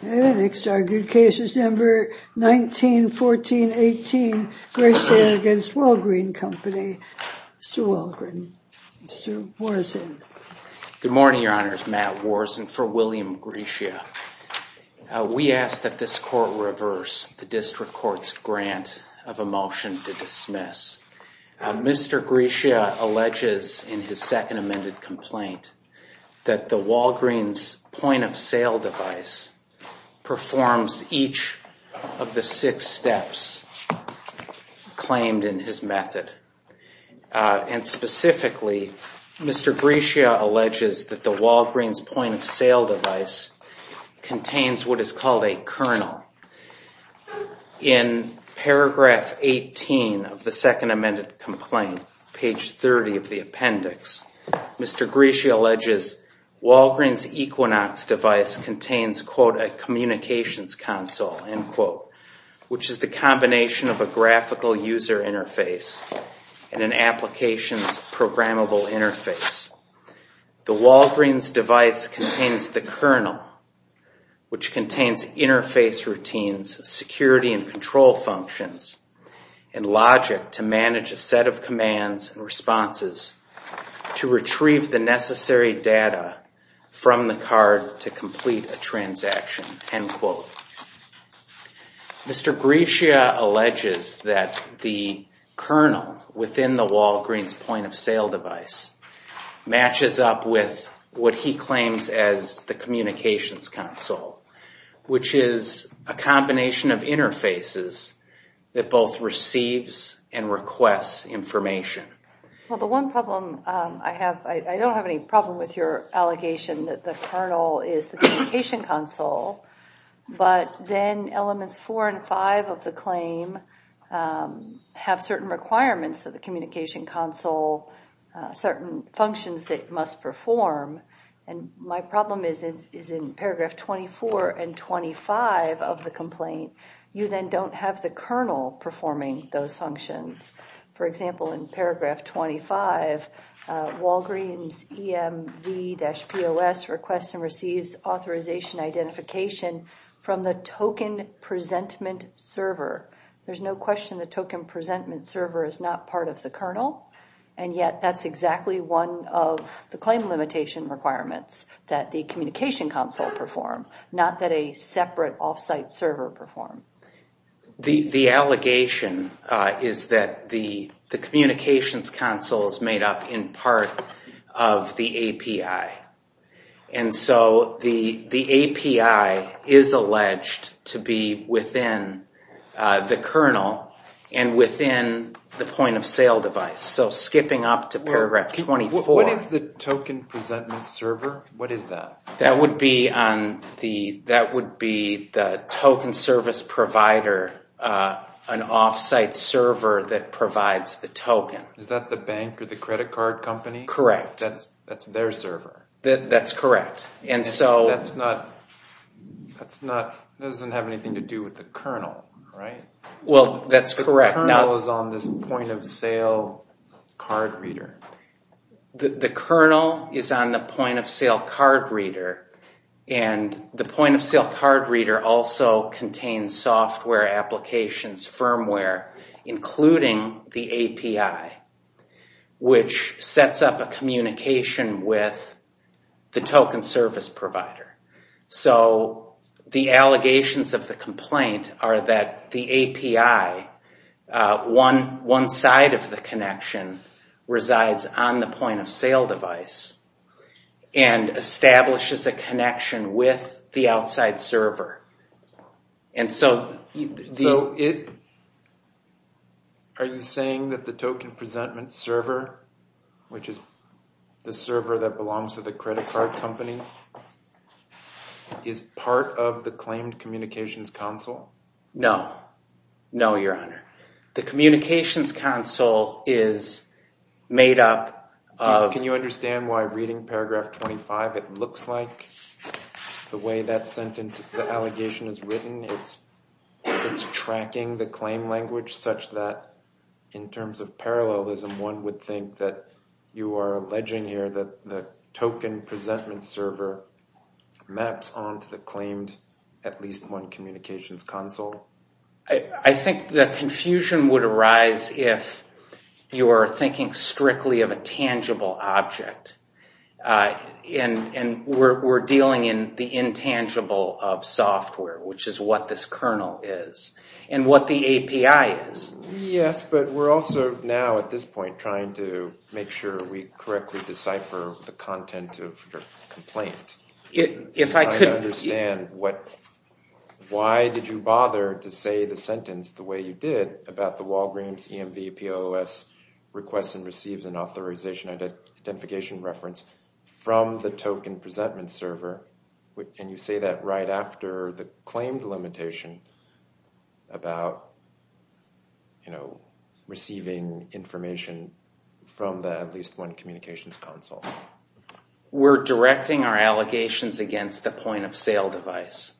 The next argued case is number 1914-18, Gratia against Walgreen Company. Mr. Walgreen, Mr. Walgreen's point-of-sale device performs each of the six steps claimed in his method. And specifically, Mr. Gratia alleges that the Walgreen's point-of-sale device contains what is called a kernel. In paragraph 18 of the second amended complaint, page 30 of the appendix, Mr. Gratia alleges Walgreen's Equinox device contains, quote, a communications console, end quote, which is the combination of a graphical user interface and an applications programmable interface. The Walgreen's device contains the kernel, which contains interface routines, security and control functions, and logic to manage a set of commands and responses to retrieve the necessary data from the card to complete a transaction, end quote. Mr. Gratia alleges that the kernel within the Walgreen's point-of-sale device matches up with what he claims as the communications console, which is a combination of interfaces that both receives and requests information. Well, the one problem I have, I don't have any problem with your allegation that the kernel is the communication console, but then elements four and five of the claim have certain requirements of the communication console, certain functions that must perform. And my problem is in paragraph 24 and 25 of the complaint, you then don't have the kernel performing those functions. For example, in paragraph 25, Walgreen's EMV-POS requests and receives authorization identification from the token presentment server. There's no question the token presentment server is not part of the kernel, and yet that's exactly one of the claim limitation requirements that the communication console perform, not that a separate off-site server perform. The allegation is that the communications console is made up in part of the API, and so the API is alleged to be within the kernel and within the point-of-sale device. So skipping up to paragraph 24. What is the token presentment server? What is that? That would be on the token service provider, an off-site server that provides the token. Is that the bank or the credit card company? Correct. That's their server? That's correct. And so... That doesn't have anything to do with the kernel, right? Well, that's correct. The kernel is on this point-of-sale card reader. The kernel is on the point-of-sale card reader, and the point-of-sale card reader also contains software applications, firmware, including the API, which sets up a communication with the token service provider. So the allegations of the complaint are that the API, one side of the connection, resides on the point-of-sale device and establishes a connection with the outside server. And so... Are you saying that the token presentment server, which is the server that belongs to the credit card company, is part of the claimed communications console? No. No, your honor. The communications console, by reading paragraph 25, it looks like the way that sentence, the allegation is written, it's it's tracking the claim language such that, in terms of parallelism, one would think that you are alleging here that the token presentment server maps onto the claimed at least one communications console? I think the confusion would arise if you're thinking strictly of a tangible object. And we're dealing in the intangible of software, which is what this kernel is, and what the API is. Yes, but we're also now, at this point, trying to make sure we correctly decipher the content of your complaint. If I could understand, why did you bother to say the sentence the identification reference from the token presentment server, and you say that right after the claimed limitation about, you know, receiving information from the at least one communications console? We're directing our allegations against the point-of-sale device,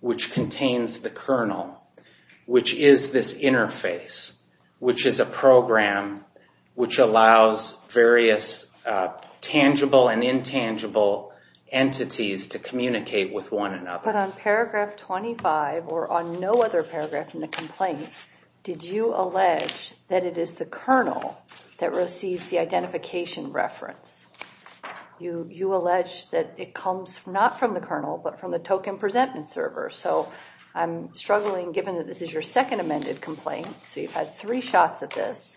which contains the kernel, which is this interface, which is a program which allows various tangible and intangible entities to communicate with one another. But on paragraph 25, or on no other paragraph in the complaint, did you allege that it is the kernel that receives the identification reference? You allege that it comes not from the kernel, but from the token presentment server. So I'm struggling, given that this is your second amended complaint, so you've had three shots at this,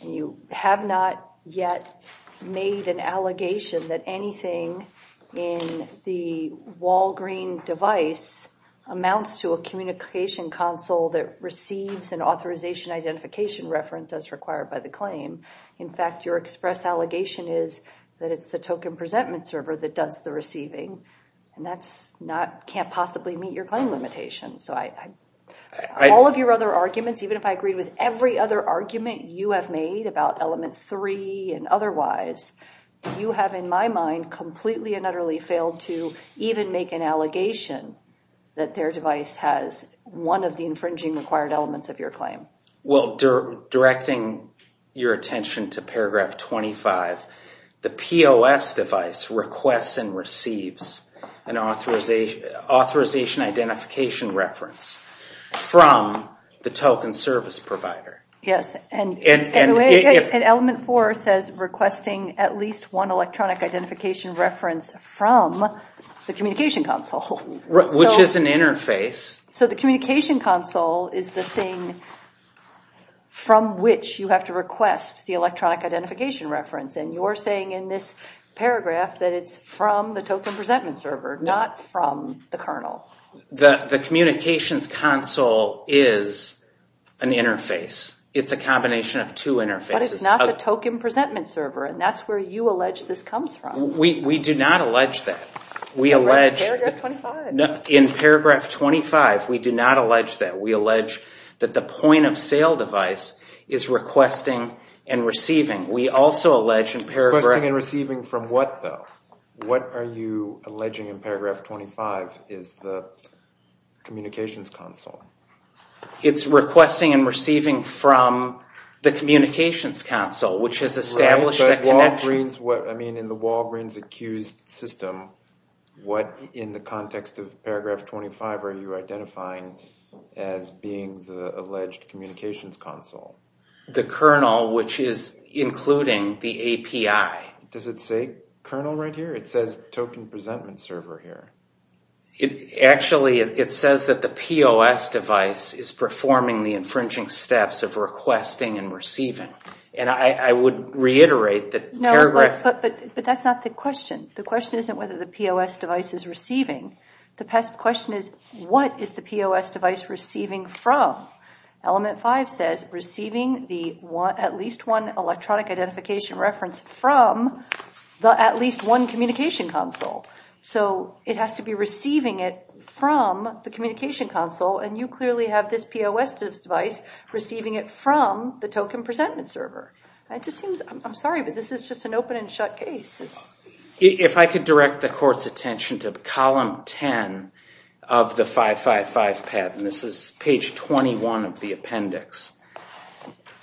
and you have not yet made an allegation that anything in the Walgreen device amounts to a communication console that receives an authorization identification reference as required by the claim. In fact, your express allegation is that it's the token presentment server that does the receiving, and that can't possibly meet your claim limitation. So all of your other arguments, even if I agreed with every other argument you have made about element three and otherwise, you have in my mind completely and utterly failed to even make an allegation that their device has one of the infringing required elements of your claim. Well, directing your attention to paragraph 25, the POS device requests and receives an authorization identification reference from the token service provider. Yes, and element four says requesting at least one electronic identification reference from the communication console. Which is an interface. So the communication console is the thing from which you have to request the electronic identification reference, and you're saying in this paragraph that it's from the token presentment server, not from the kernel. The communications console is an interface. It's a combination of two interfaces. But it's not the token presentment server, and that's where you allege this comes from. We do not allege that. In paragraph 25, we do not allege that. We allege that the point-of-sale device is requesting and receiving. We also allege in paragraph... Requesting and receiving from what, though? What are you alleging in paragraph 25 is the communications console? It's requesting and receiving from the communications console, which has established that connection. Right, but in the Walgreens accused system, what in the context of paragraph 25 are you identifying as being the alleged communications console? The kernel, which is including the API. Does it say kernel right here? It says token presentment server here. Actually, it says that the POS device is performing the infringing steps of requesting and receiving, and I would reiterate that paragraph... No, but that's not the question. The question isn't whether the POS device is receiving. The question is, what is the POS device receiving from? Element 5 says receiving at least one electronic identification reference from at least one communication console. So it has to be receiving it from the communication console, and you clearly have this POS device receiving it from the token presentment server. I'm sorry, but this is just an open and shut case. If I could direct the court's attention to column 10 of the 555 patent. This is page 21 of the appendix,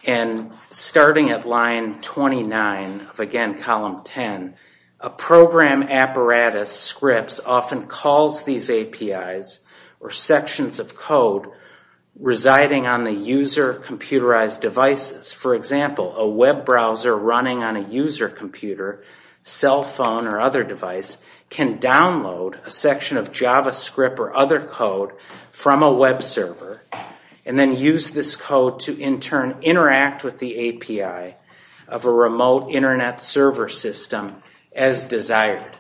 and starting at line 29 of, again, column 10, a program apparatus scripts often calls these APIs or sections of code residing on the user computerized devices. For example, a web browser running on a user computer, cell phone, or other device can download a section of JavaScript or other code from a web server and then use this code to in turn interact with the API of a remote internet server system as desired.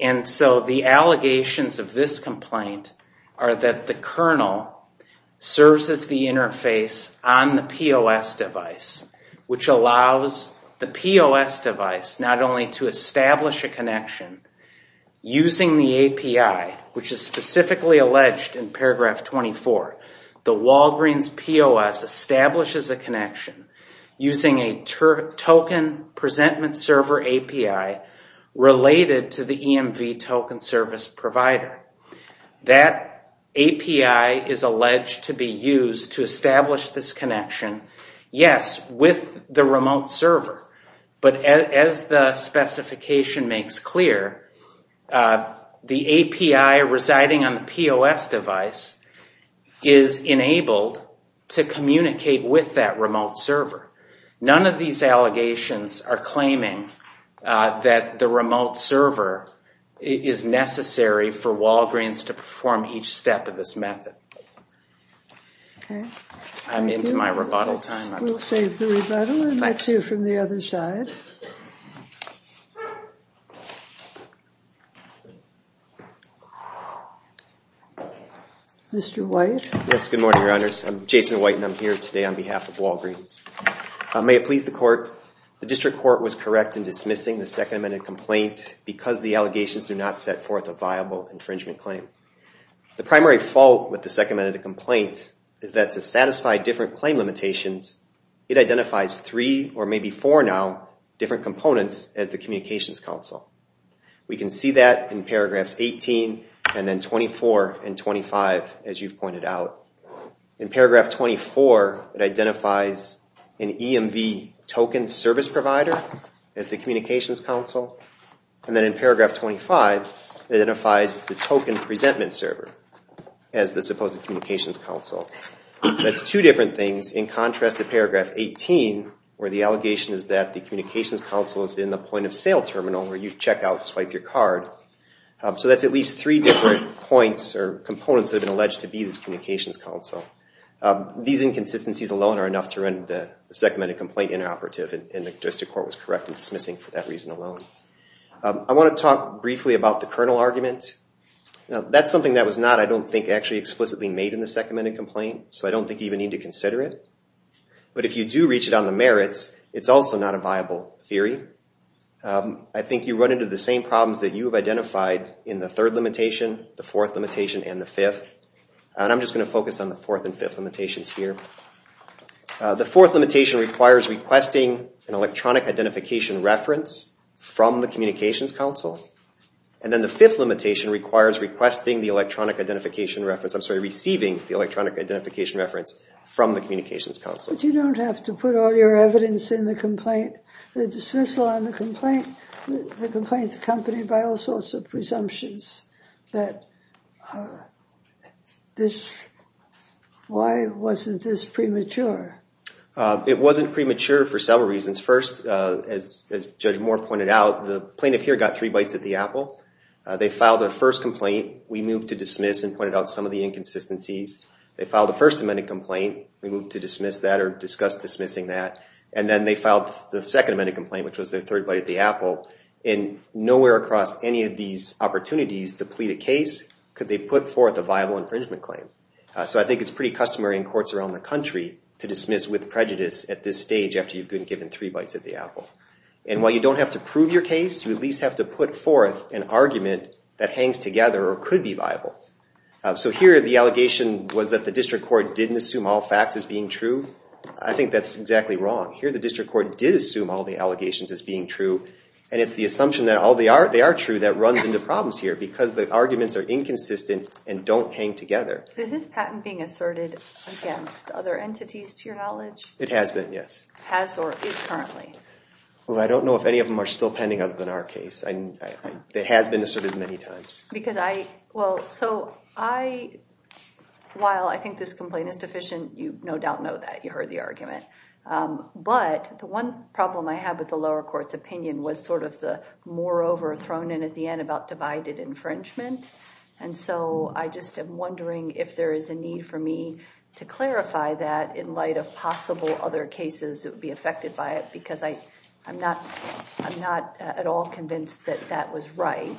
And so the allegations of this complaint are that the kernel serves as the interface on the POS device, which allows the POS device not only to establish a connection using the API, which is specifically alleged in paragraph 24, the Walgreens POS establishes a API related to the EMV token service provider. That API is alleged to be used to establish this connection, yes, with the remote server, but as the specification makes clear, the API residing on the POS device is enabled to communicate with that remote server. None of these allegations are claiming that the remote server is necessary for Walgreens to perform each step of this method. I'm into my rebuttal time. We'll save the rebuttal, and let's hear from the other side. Mr. White? Yes, good morning, your honors. I'm Jason White, and I'm here today on behalf of the district court. The district court was correct in dismissing the Second Amendment complaint because the allegations do not set forth a viable infringement claim. The primary fault with the Second Amendment complaint is that to satisfy different claim limitations, it identifies three or maybe four now different components as the communications counsel. We can see that in paragraphs 18 and then 24 and 25, as you've pointed out. In paragraph 24, it identifies an EMV token service provider as the communications counsel, and then in paragraph 25, it identifies the token presentment server as the supposed communications counsel. That's two different things in contrast to paragraph 18, where the allegation is that the communications counsel is in the point of sale terminal where you check out, swipe your card. So that's at least three different points or components that have been alleged to be this communications counsel. These inconsistencies alone are enough to render the Second Amendment complaint inoperative, and the district court was correct in dismissing for that reason alone. I want to talk briefly about the kernel argument. That's something that was not, I don't think, actually explicitly made in the Second Amendment complaint, so I don't think you even need to consider it. But if you do reach it on the merits, it's also not a viable theory. I think you run into the same problems that you have identified in the third limitation, the fourth limitation, and the fifth, and I'm just going to focus on the fourth and fifth limitations here. The fourth limitation requires requesting an electronic identification reference from the communications counsel, and then the fifth limitation requires requesting the electronic identification reference, I'm sorry, receiving the electronic identification reference from the communications counsel. But you don't have to put all your evidence in the complaint. The dismissal on the complaint, the complaint's accompanied by all sorts of presumptions that this, why wasn't this premature? It wasn't premature for several reasons. First, as Judge Moore pointed out, the plaintiff here got three bites at the apple. They filed their first complaint, we moved to dismiss and pointed out some of the inconsistencies. They filed the First Amendment complaint, we moved to dismiss that or discuss dismissing that, and then they filed the Second Amendment complaint, which was their third bite at the apple. And nowhere across any of these opportunities to plead a case could they put forth a viable infringement claim. So I think it's pretty customary in courts around the country to dismiss with prejudice at this stage after you've been given three bites at the apple. And while you don't have to prove your case, you at least have to put forth an argument that hangs together or could be viable. So here the allegation was that the district court didn't assume all facts as being true. I think that's exactly wrong. Here the district court did assume all the allegations as being true, and it's the assumption that they are true that runs into problems here, because the arguments are inconsistent and don't hang together. Is this patent being asserted against other entities to your knowledge? It has been, yes. Has or is currently? Well, I don't know if any of them are still pending other than our case. It has been asserted many times. So while I think this complaint is deficient, you no doubt know that, you heard the argument. But the one problem I have with the lower court's opinion was sort of the moreover thrown in at the end about divided infringement. And so I just am wondering if there is a need for me to clarify that in light of possible other cases that would be affected by it, because I'm not at all convinced that that was right.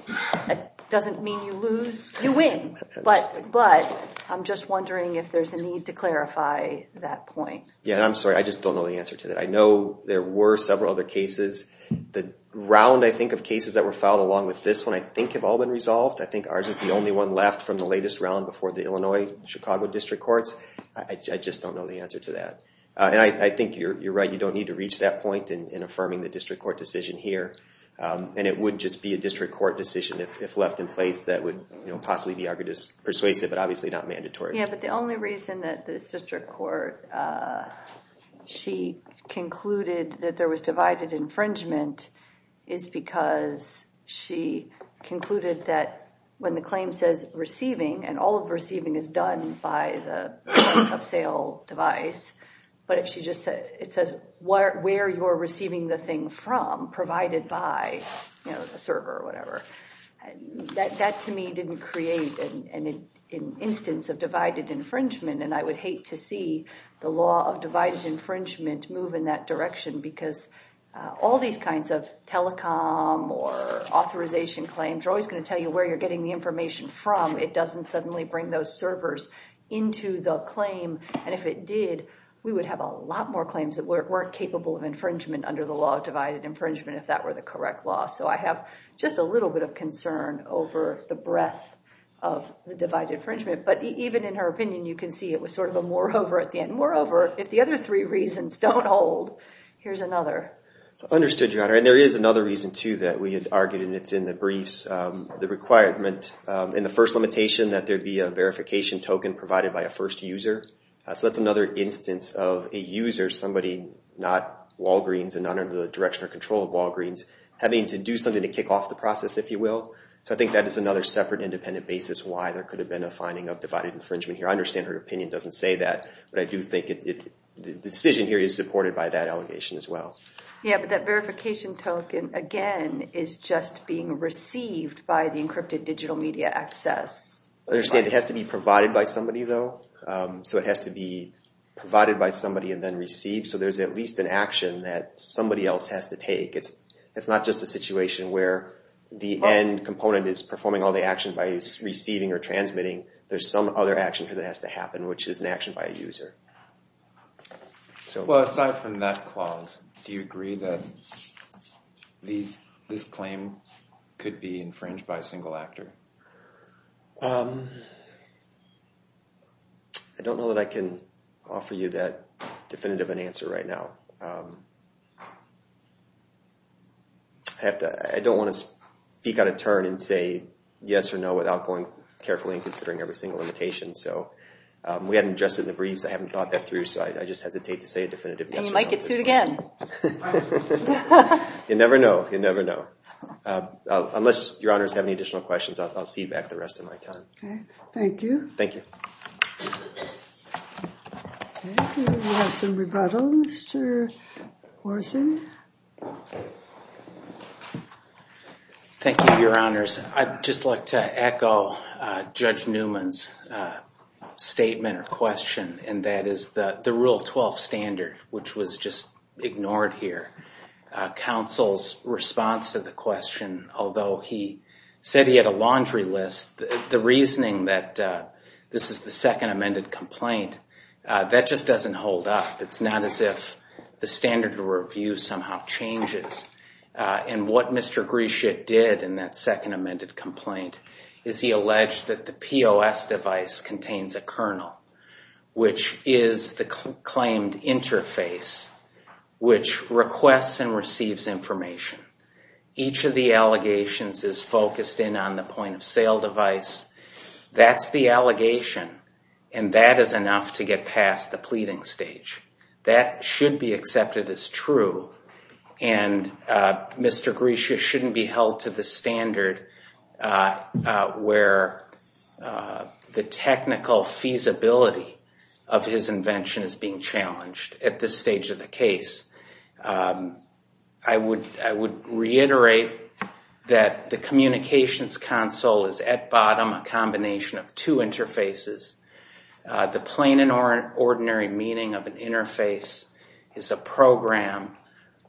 It doesn't mean you lose, you win. But I'm just wondering if there's a need to clarify that point. Yeah, I'm sorry. I just don't know the answer to that. I know there were several other cases. The round, I think, of cases that were filed along with this one, I think have all been resolved. I think ours is the only one left from the latest round before the Illinois-Chicago district courts. I just don't know the answer to that. And I think you're right, you don't need to reach that point in affirming the district court decision here. And it would just be a district court decision if left in place that would possibly be persuasive, but obviously not mandatory. Yeah, but the only reason that this district court, she concluded that there was divided infringement is because she concluded that when the claim says receiving, and all of receiving is done by the point-of-sale device, but if she just said, it says where you're receiving the thing from, provided by a server or whatever, that, to me, didn't create an instance of divided infringement. And I would hate to see the law of divided infringement move in that direction because all these kinds of telecom or authorization claims are always going to tell you where you're getting the information from. It doesn't suddenly bring those servers into the claim. And if it did, we would have a lot more claims that weren't capable of infringement under the law of divided infringement if that were the correct law. So I have just a little bit of concern over the breadth of the divided infringement. But even in her opinion, you can see it was sort of a moreover at the end. Moreover, if the other three reasons don't hold, here's another. Understood, Your Honor. And there is another reason, too, that we had argued, and it's in the briefs, the requirement in the first limitation that there'd be a verification token provided by a first user. So that's another instance of a user, somebody not Walgreens and not under the direction or control of Walgreens, having to do something to kick off the process, if you will. So I think that is another separate independent basis why there could have been a finding of divided infringement here. I understand her opinion doesn't say that, but I do think the decision here is supported by that allegation as well. Yeah, but that verification token, again, is just being received by the encrypted digital media access. I understand it has to be provided by somebody, though. So it has to be provided by somebody and then received. So there's at least an action that somebody else has to take. It's not just a situation where the end component is performing all the action by receiving or transmitting. There's some other action that has to happen, which is an action by a user. Well, aside from that clause, do you agree that this claim could be infringed by a single actor? I don't know that I can offer you that definitive answer right now. I don't want to speak out of turn and say yes or no without going carefully and considering every single limitation. So we haven't addressed it in the briefs. I haven't thought that through, so I just hesitate to say a definitive answer. You might get sued again. You never know. You never know. Unless Your Honors have any additional questions, I'll cede back the rest of my time. Okay, thank you. Thank you. Okay, we have some rebuttals. Mr. Orson. Thank you, Your Honors. I'd just like to echo Judge Newman's statement or question, and that is the Rule 12 standard, which was just ignored here. Counsel's response to the question, although he said he had a laundry list, the reasoning that this is the second amended complaint, that just doesn't hold up. It's not as if the standard review somehow changes. And what Mr. Grisha did in that second amended complaint is he alleged that the POS device contains a kernel, which is the claimed interface, which requests and receives information. Each of the allegations is focused in on the point-of-sale device. That's the allegation, and that is enough to get past the pleading stage. That should be accepted as true, and Mr. Grisha shouldn't be held to the standard where the technical feasibility of his invention is being challenged at this stage of the case. I would reiterate that the communications console is at bottom a combination of two interfaces. The plain and ordinary meaning of an interface is a program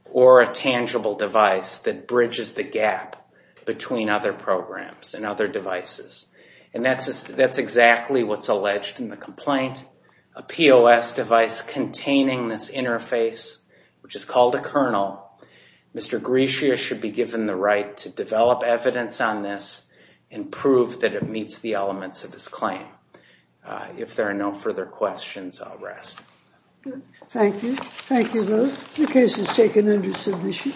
or a tangible device that bridges the gap between other programs and other devices. And that's exactly what's alleged in the complaint, a POS device containing this interface, which is called a kernel. Mr. Grisha should be given the right to develop evidence on this and prove that it meets the elements of his claim. If there are no further questions, I'll rest. Thank you. Thank you both. The case is taken under submission.